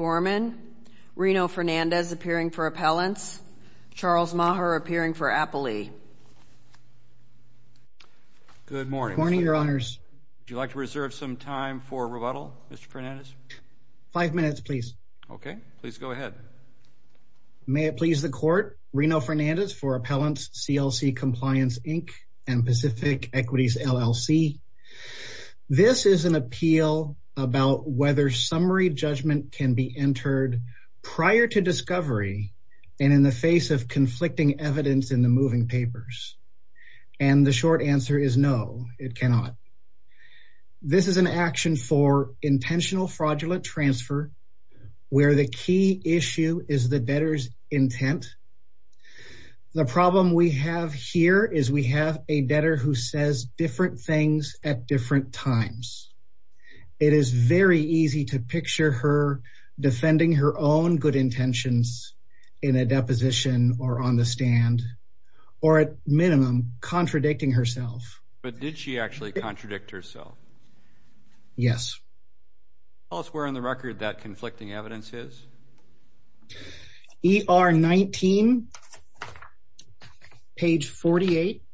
O'GORMAN, RINO FERNANDEZ APPEARING FOR APPELLANCE, CHARLES MAHER APPEARING FOR APPELEE. Good morning. Good morning, Your Honors. Would you like to reserve some time for rebuttal, Mr. Fernandez? Five minutes, please. Okay. Please go ahead. May it please the Court, Rino Fernandez for Appellants, CLC Compliance, Inc., and Pacific Equities, LLC. This is an appeal about whether summary judgment can be entered prior to discovery and in the face of conflicting evidence in the moving papers. And the short answer is no, it cannot. This is an action for intentional fraudulent transfer where the key issue is the debtor's intent. The problem we have here is we have a debtor who says different things at different times. It is very easy to picture her defending her own good intentions in a deposition or on the stand or, at minimum, contradicting herself. But did she actually contradict herself? Yes. Tell us where on the record that conflicting evidence is. ER 19, page 48,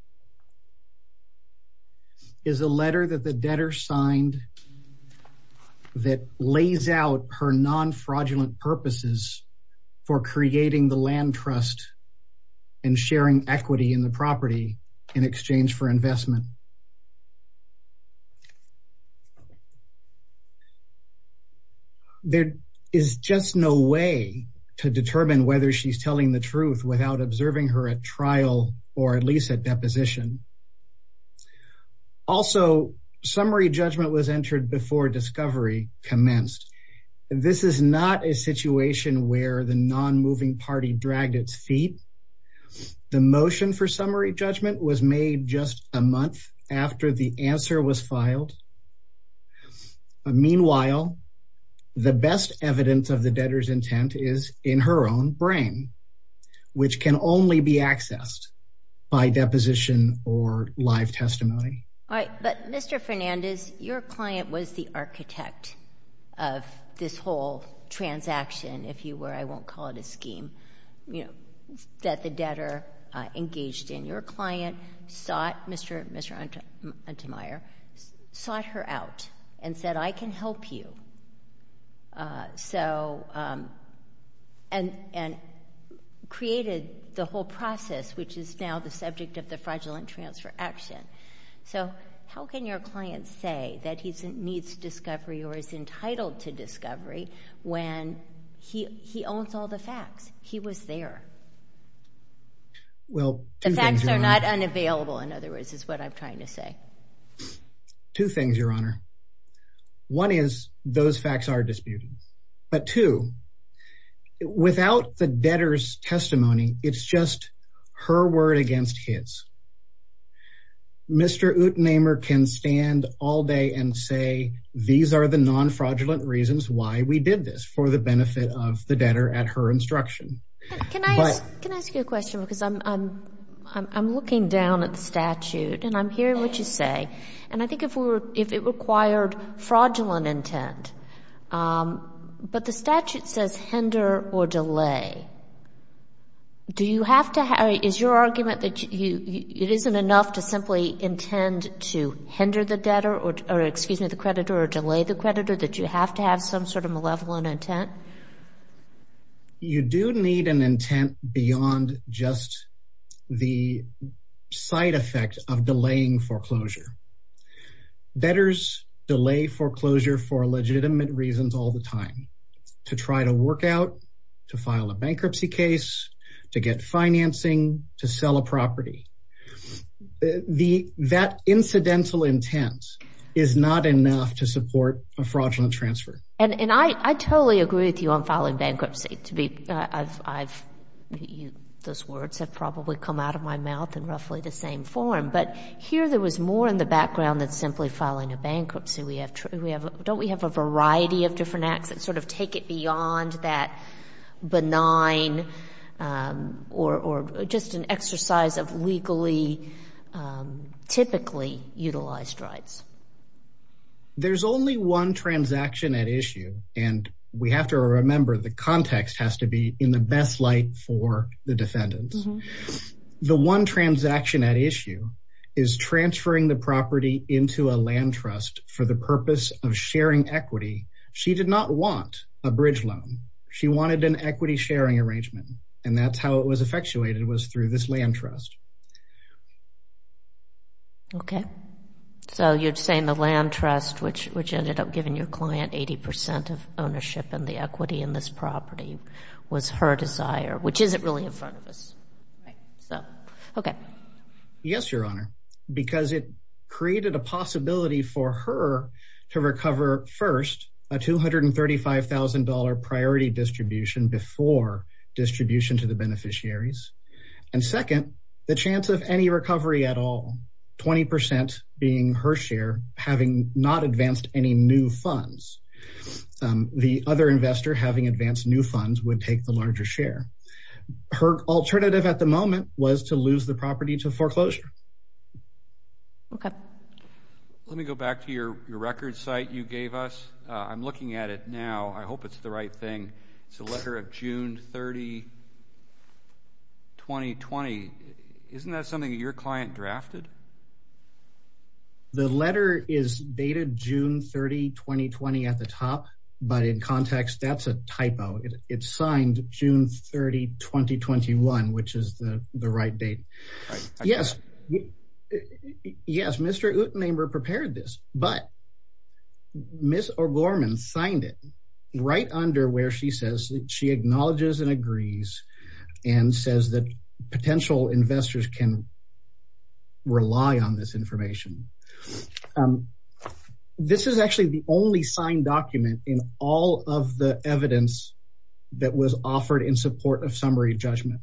is a letter that the debtor signed that lays out her non-fraudulent purposes for creating the land trust and sharing equity in the property in exchange for investment. There is just no way to determine whether she's telling the truth without observing her at trial or at least at deposition. Also, summary judgment was entered before discovery commenced. This is not a situation where the non-moving party dragged its feet. The motion for summary judgment was made just a month after the answer was filed. Meanwhile, the best evidence of the debtor's intent is in her own brain, which can only be accessed by deposition or live testimony. All right. But, Mr. Fernandez, your client was the architect of this whole transaction, if you were. I won't call it a scheme, you know, that the debtor engaged in. Your client sought—Mr. Untemeyer sought her out and said, I can help you, so—and created the whole process, which is now the subject of the fraudulent transfer action. So how can your client say that he needs discovery or is entitled to discovery when he owns all the facts? He was there. Well, two things, Your Honor. The facts are not unavailable, in other words, is what I'm trying to say. Two things, Your Honor. One is those facts are disputed. But two, without the debtor's testimony, it's just her word against his. Mr. Untemeyer can stand all day and say these are the non-fraudulent reasons why we did this for the benefit of the debtor at her instruction. Can I ask you a question? Because I'm looking down at the statute, and I'm hearing what you say, and I think if it required fraudulent intent, but the statute says hinder or delay. Do you have to—is your argument that it isn't enough to simply intend to hinder the debtor or, excuse me, the creditor or delay the creditor, that you have to have some sort of malevolent intent? You do need an intent beyond just the side effect of delaying foreclosure. Debtors delay foreclosure for legitimate reasons all the time, to try to work out, to file a bankruptcy case, to get financing, to sell a property. That incidental intent is not enough to support a fraudulent transfer. And I totally agree with you on filing bankruptcy. Those words have probably come out of my mouth in roughly the same form. But here there was more in the background than simply filing a bankruptcy. We have—don't we have a variety of different acts that sort of take it beyond that benign or just an exercise of legally typically utilized rights? There's only one transaction at issue, and we have to remember the context has to be in the best light for the defendants. The one transaction at issue is transferring the property into a land trust for the purpose of sharing equity. She did not want a bridge loan. She wanted an equity sharing arrangement, and that's how it was effectuated was through this land trust. Okay. So you're saying the land trust, which ended up giving your client 80 percent of ownership in the equity in this property, was her desire, which isn't really in front of us. Right. Okay. Yes, Your Honor, because it created a possibility for her to recover, first, a $235,000 priority distribution before distribution to the beneficiaries. And second, the chance of any recovery at all, 20 percent being her share, having not advanced any new funds. The other investor having advanced new funds would take the larger share. Her alternative at the moment was to lose the property to foreclosure. Okay. Let me go back to your record site you gave us. I'm looking at it now. I hope it's the right thing. It's a letter of June 30, 2020. Isn't that something that your client drafted? The letter is dated June 30, 2020 at the top, but in context, that's a typo. It's signed June 30, 2021, which is the right date. Yes. Yes, Mr. Utenheimer prepared this, but Ms. O'Gorman signed it right under where she says she acknowledges and agrees and says that potential investors can rely on this information. This is actually the only signed document in all of the evidence that was offered in support of summary judgment.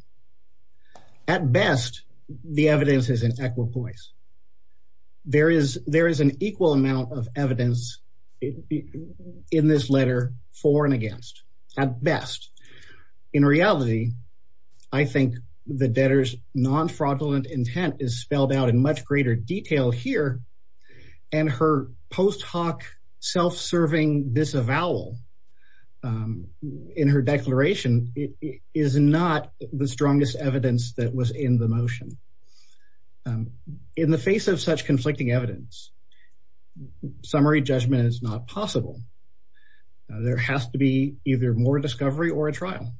At best, the evidence is in equal place. There is an equal amount of evidence in this letter for and against, at best. In reality, I think the debtor's non-fraudulent intent is spelled out in much greater detail here, and her post hoc self-serving disavowal in her declaration is not the strongest evidence that was in the motion. In the face of such conflicting evidence, summary judgment is not possible. There has to be either more discovery or a trial.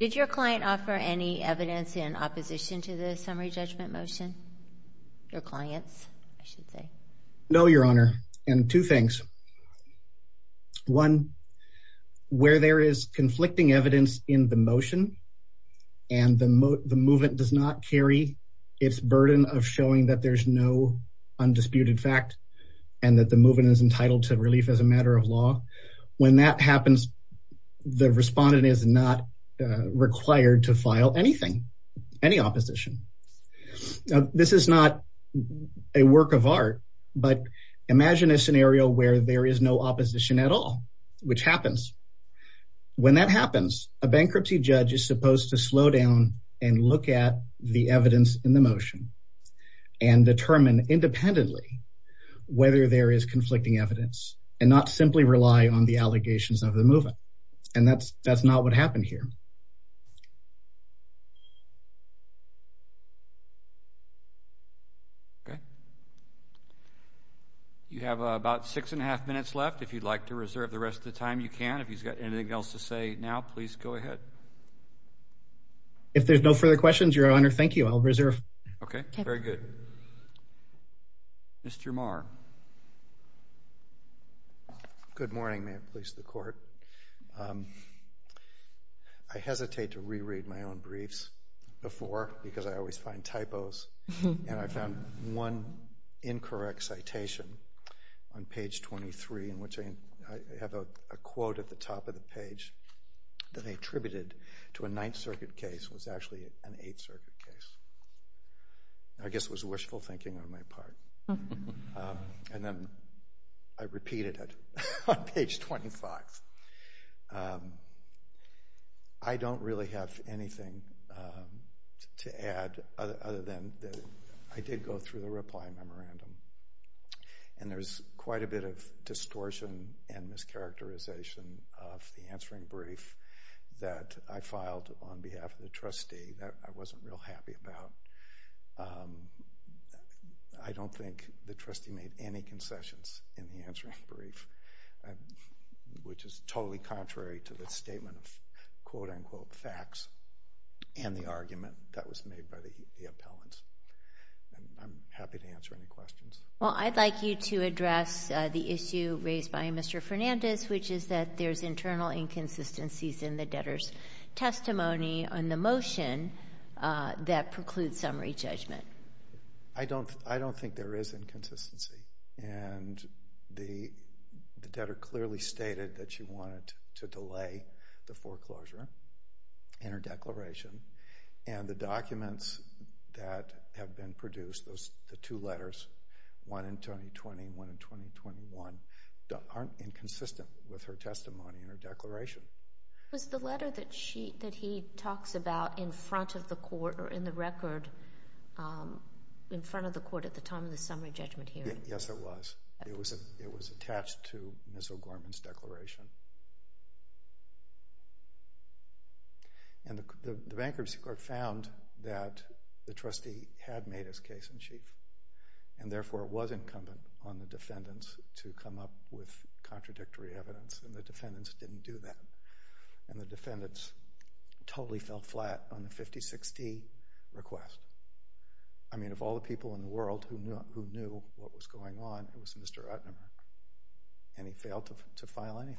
Did your client offer any evidence in opposition to the summary judgment motion? Your clients, I should say. No, Your Honor, and two things. One, where there is conflicting evidence in the motion and the movement does not carry its burden of showing that there's no undisputed fact and that the movement is entitled to relief as a matter of law, when that happens, the respondent is not required to file anything, any opposition. This is not a work of art, but imagine a scenario where there is no opposition at all, which happens. When that happens, a bankruptcy judge is supposed to slow down and look at the evidence in the motion and determine independently whether there is conflicting evidence and not simply rely on the allegations of the movement, and that's not what happened here. Okay. You have about six and a half minutes left. If you'd like to reserve the rest of the time, you can. If he's got anything else to say now, please go ahead. If there's no further questions, Your Honor, thank you. I'll reserve. Okay. Very good. Mr. Marr. Good morning. May it please the Court. I hesitate to reread my own briefs before because I always find typos, and I found one incorrect citation on page 23 in which I have a quote at the top of the page that I attributed to a Ninth Circuit case. It was actually an Eighth Circuit case. I guess it was wishful thinking on my part. And then I repeated it on page 25. I don't really have anything to add other than I did go through the reply memorandum, and there's quite a bit of distortion and mischaracterization of the answering brief that I filed on behalf of the trustee that I wasn't real happy about. I don't think the trustee made any concessions in the answering brief, which is totally contrary to the statement of quote-unquote facts and the argument that was made by the appellants. I'm happy to answer any questions. Well, I'd like you to address the issue raised by Mr. Fernandez, which is that there's internal inconsistencies in the debtor's testimony on the motion that precludes summary judgment. I don't think there is inconsistency. And the debtor clearly stated that she wanted to delay the foreclosure in her declaration, and the documents that have been produced, the two letters, one in 2020 and one in 2021, aren't inconsistent with her testimony in her declaration. It was the letter that he talks about in front of the court or in the record in front of the court at the time of the summary judgment hearing. Yes, it was. It was attached to Ms. O'Gorman's declaration. And the bankruptcy court found that the trustee had made his case in chief, and therefore it was incumbent on the defendants to come up with contradictory evidence, and the defendants didn't do that. And the defendants totally fell flat on the 50-60 request. I mean, of all the people in the world who knew what was going on, it was Mr. Utnemer, and he failed to file anything.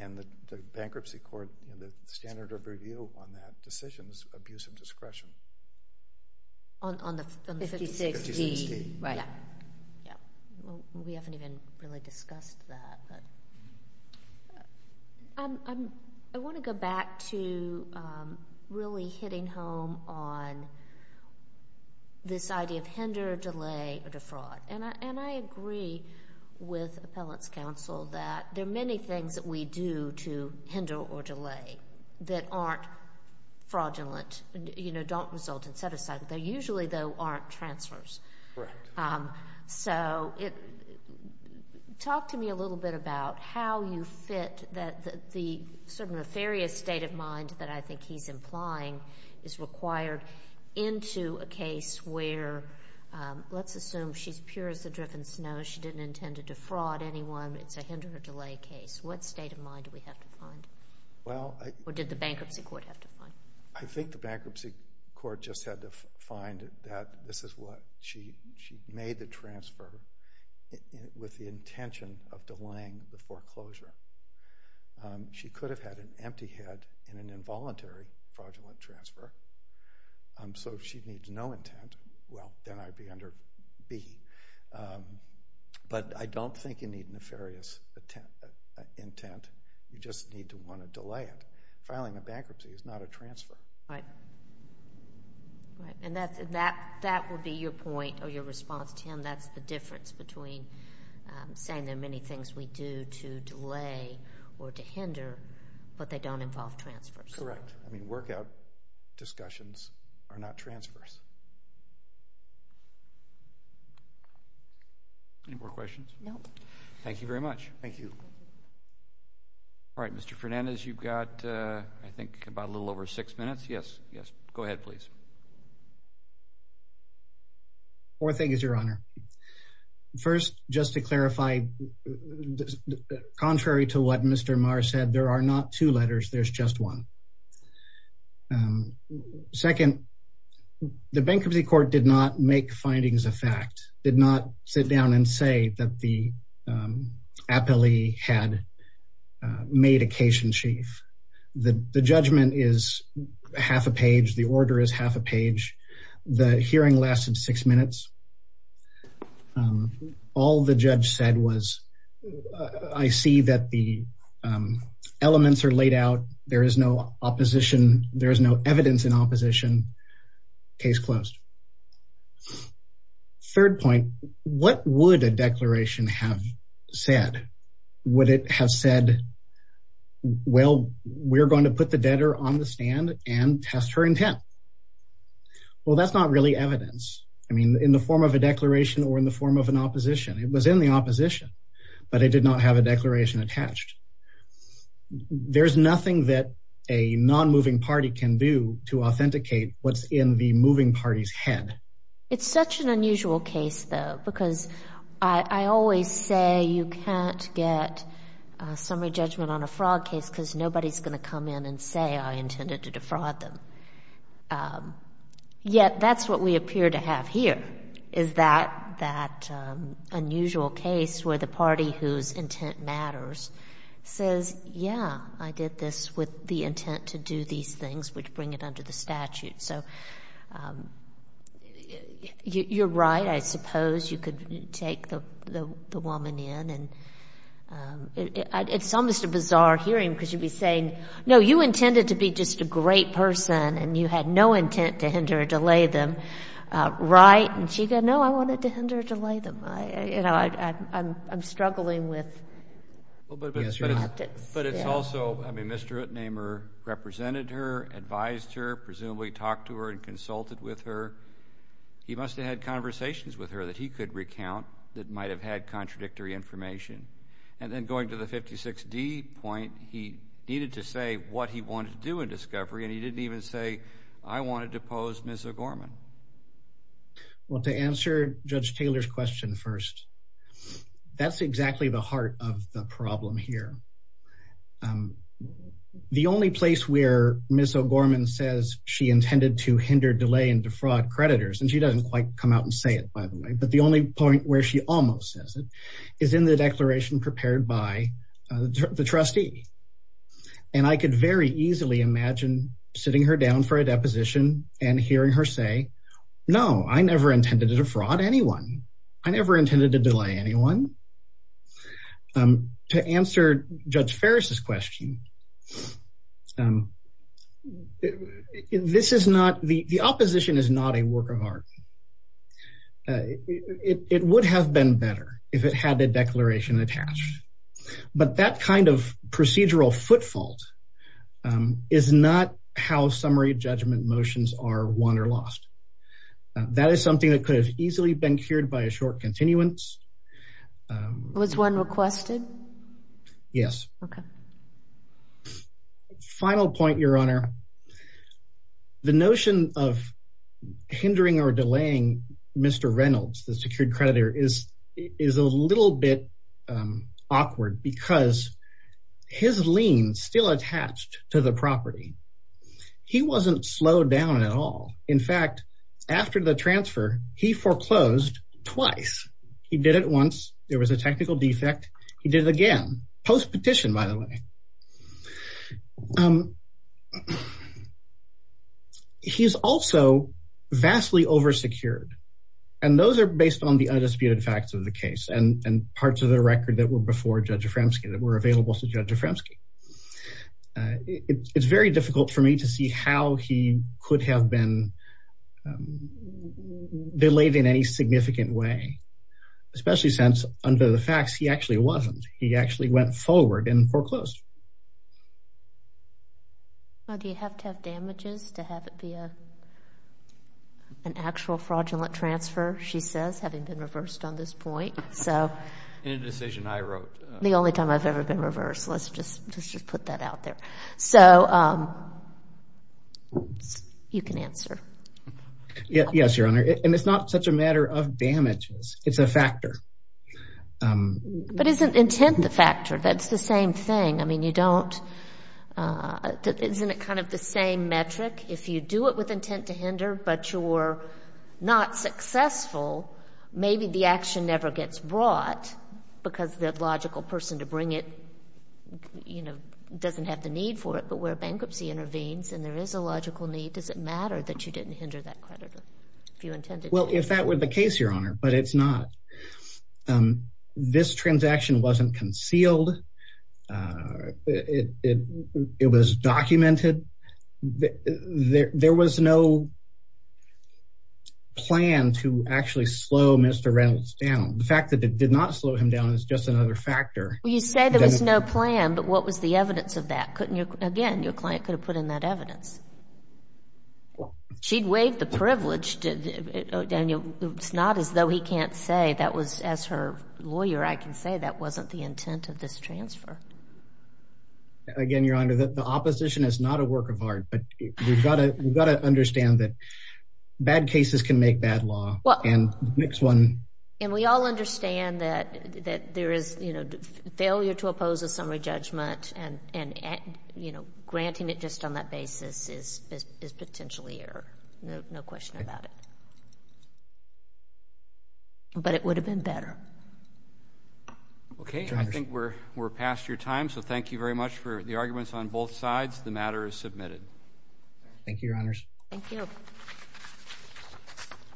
And the bankruptcy court, the standard of review on that decision is abuse of discretion. On the 50-60? 50-60. Right. We haven't even really discussed that. I want to go back to really hitting home on this idea of hinder, delay, or defraud. And I agree with Appellate's counsel that there are many things that we do to hinder or delay that aren't fraudulent, you know, don't result in set-aside. They usually, though, aren't transfers. Correct. So, talk to me a little bit about how you fit the sort of nefarious state of mind that I think he's implying is required into a case where, let's assume she's pure as the driven snow. She didn't intend to defraud anyone. It's a hinder or delay case. What state of mind do we have to find? Or did the bankruptcy court have to find? I think the bankruptcy court just had to find that this is what she made the transfer with the intention of delaying the foreclosure. She could have had an empty head in an involuntary fraudulent transfer. So, if she needs no intent, well, then I'd be under B. But I don't think you need nefarious intent. You just need to want to delay it. Filing a bankruptcy is not a transfer. Right. And that would be your point or your response to him. That's the difference between saying there are many things we do to delay or to hinder, but they don't involve transfers. Correct. I mean, workout discussions are not transfers. Any more questions? No. Thank you very much. Thank you. All right. Mr. Fernandez, you've got, I think, about a little over six minutes. Yes. Yes. Go ahead, please. Four things, Your Honor. First, just to clarify, contrary to what Mr. Marr said, there are not two letters. There's just one. Second, the bankruptcy court did not make findings of fact, did not sit down and say that the appellee had made a case in chief. The judgment is half a page. The order is half a page. The hearing lasted six minutes. All the judge said was, I see that the elements are laid out. There is no opposition. There is no evidence in opposition. Case closed. Third point, what would a declaration have said? Would it have said, well, we're going to put the debtor on the stand and test her intent? Well, that's not really evidence. I mean, in the form of a declaration or in the form of an opposition. It was in the opposition, but it did not have a declaration attached. There's nothing that a non-moving party can do to authenticate what's in the moving party's head. It's such an unusual case, though, because I always say you can't get a summary judgment on a fraud case because nobody's going to come in and say I intended to defraud them. Yet that's what we appear to have here is that unusual case where the party whose intent matters says, yeah, I did this with the intent to do these things, which bring it under the statute. So you're right. I suppose you could take the woman in, and it's almost a bizarre hearing because you'd be saying, no, you intended to be just a great person, and you had no intent to hinder or delay them, right? And she'd go, no, I wanted to hinder or delay them. You know, I'm struggling with the tactics. But it's also, I mean, Mr. Utnehmer represented her, advised her, presumably talked to her and consulted with her. He must have had conversations with her that he could recount that might have had contradictory information. And then going to the 56D point, he needed to say what he wanted to do in discovery, and he didn't even say I wanted to pose Ms. O'Gorman. Well, to answer Judge Taylor's question first, that's exactly the heart of the problem here. The only place where Ms. O'Gorman says she intended to hinder, delay, and defraud creditors, and she doesn't quite come out and say it, by the way, but the only point where she almost says it is in the declaration prepared by the trustee. And I could very easily imagine sitting her down for a deposition and hearing her say, no, I never intended to defraud anyone. I never intended to delay anyone. To answer Judge Ferris's question, this is not, the opposition is not a work of art. It would have been better if it had a declaration attached. But that kind of procedural footfall is not how summary judgment motions are won or lost. That is something that could have easily been cured by a short continuance. Was one requested? Yes. Okay. Final point, Your Honor. The notion of hindering or delaying Mr. Reynolds, the secured creditor, is a little bit awkward because his lien is still attached to the property. He wasn't slowed down at all. In fact, after the transfer, he foreclosed twice. He did it once. There was a technical defect. He did it again, post-petition, by the way. He's also vastly over-secured, and those are based on the undisputed facts of the case and parts of the record that were before Judge Aframski, that were available to Judge Aframski. It's very difficult for me to see how he could have been delayed in any significant way, especially since, under the facts, he actually wasn't. He actually went forward and foreclosed. Do you have to have damages to have it be an actual fraudulent transfer, she says, having been reversed on this point? In a decision I wrote. The only time I've ever been reversed. Let's just put that out there. So you can answer. Yes, Your Honor, and it's not such a matter of damages. It's a factor. But isn't intent the factor? That's the same thing. I mean, you don't – isn't it kind of the same metric? If you do it with intent to hinder, but you're not successful, maybe the action never gets brought because the logical person to bring it, you know, doesn't have the need for it, but where bankruptcy intervenes and there is a logical need, does it matter that you didn't hinder that creditor if you intended to? Well, if that were the case, Your Honor, but it's not. This transaction wasn't concealed. It was documented. There was no plan to actually slow Mr. Reynolds down. The fact that it did not slow him down is just another factor. Well, you say there was no plan, but what was the evidence of that? Again, your client could have put in that evidence. She'd waived the privilege. Daniel, it's not as though he can't say that was – as her lawyer, I can say that wasn't the intent of this transfer. Again, Your Honor, the opposition is not a work of art, but we've got to understand that bad cases can make bad law. And the next one – And we all understand that there is, you know, failure to oppose a summary judgment and, you know, granting it just on that basis is potentially error, no question about it. But it would have been better. Okay. I think we're past your time, so thank you very much for the arguments on both sides. The matter is submitted. Thank you, Your Honors. Thank you.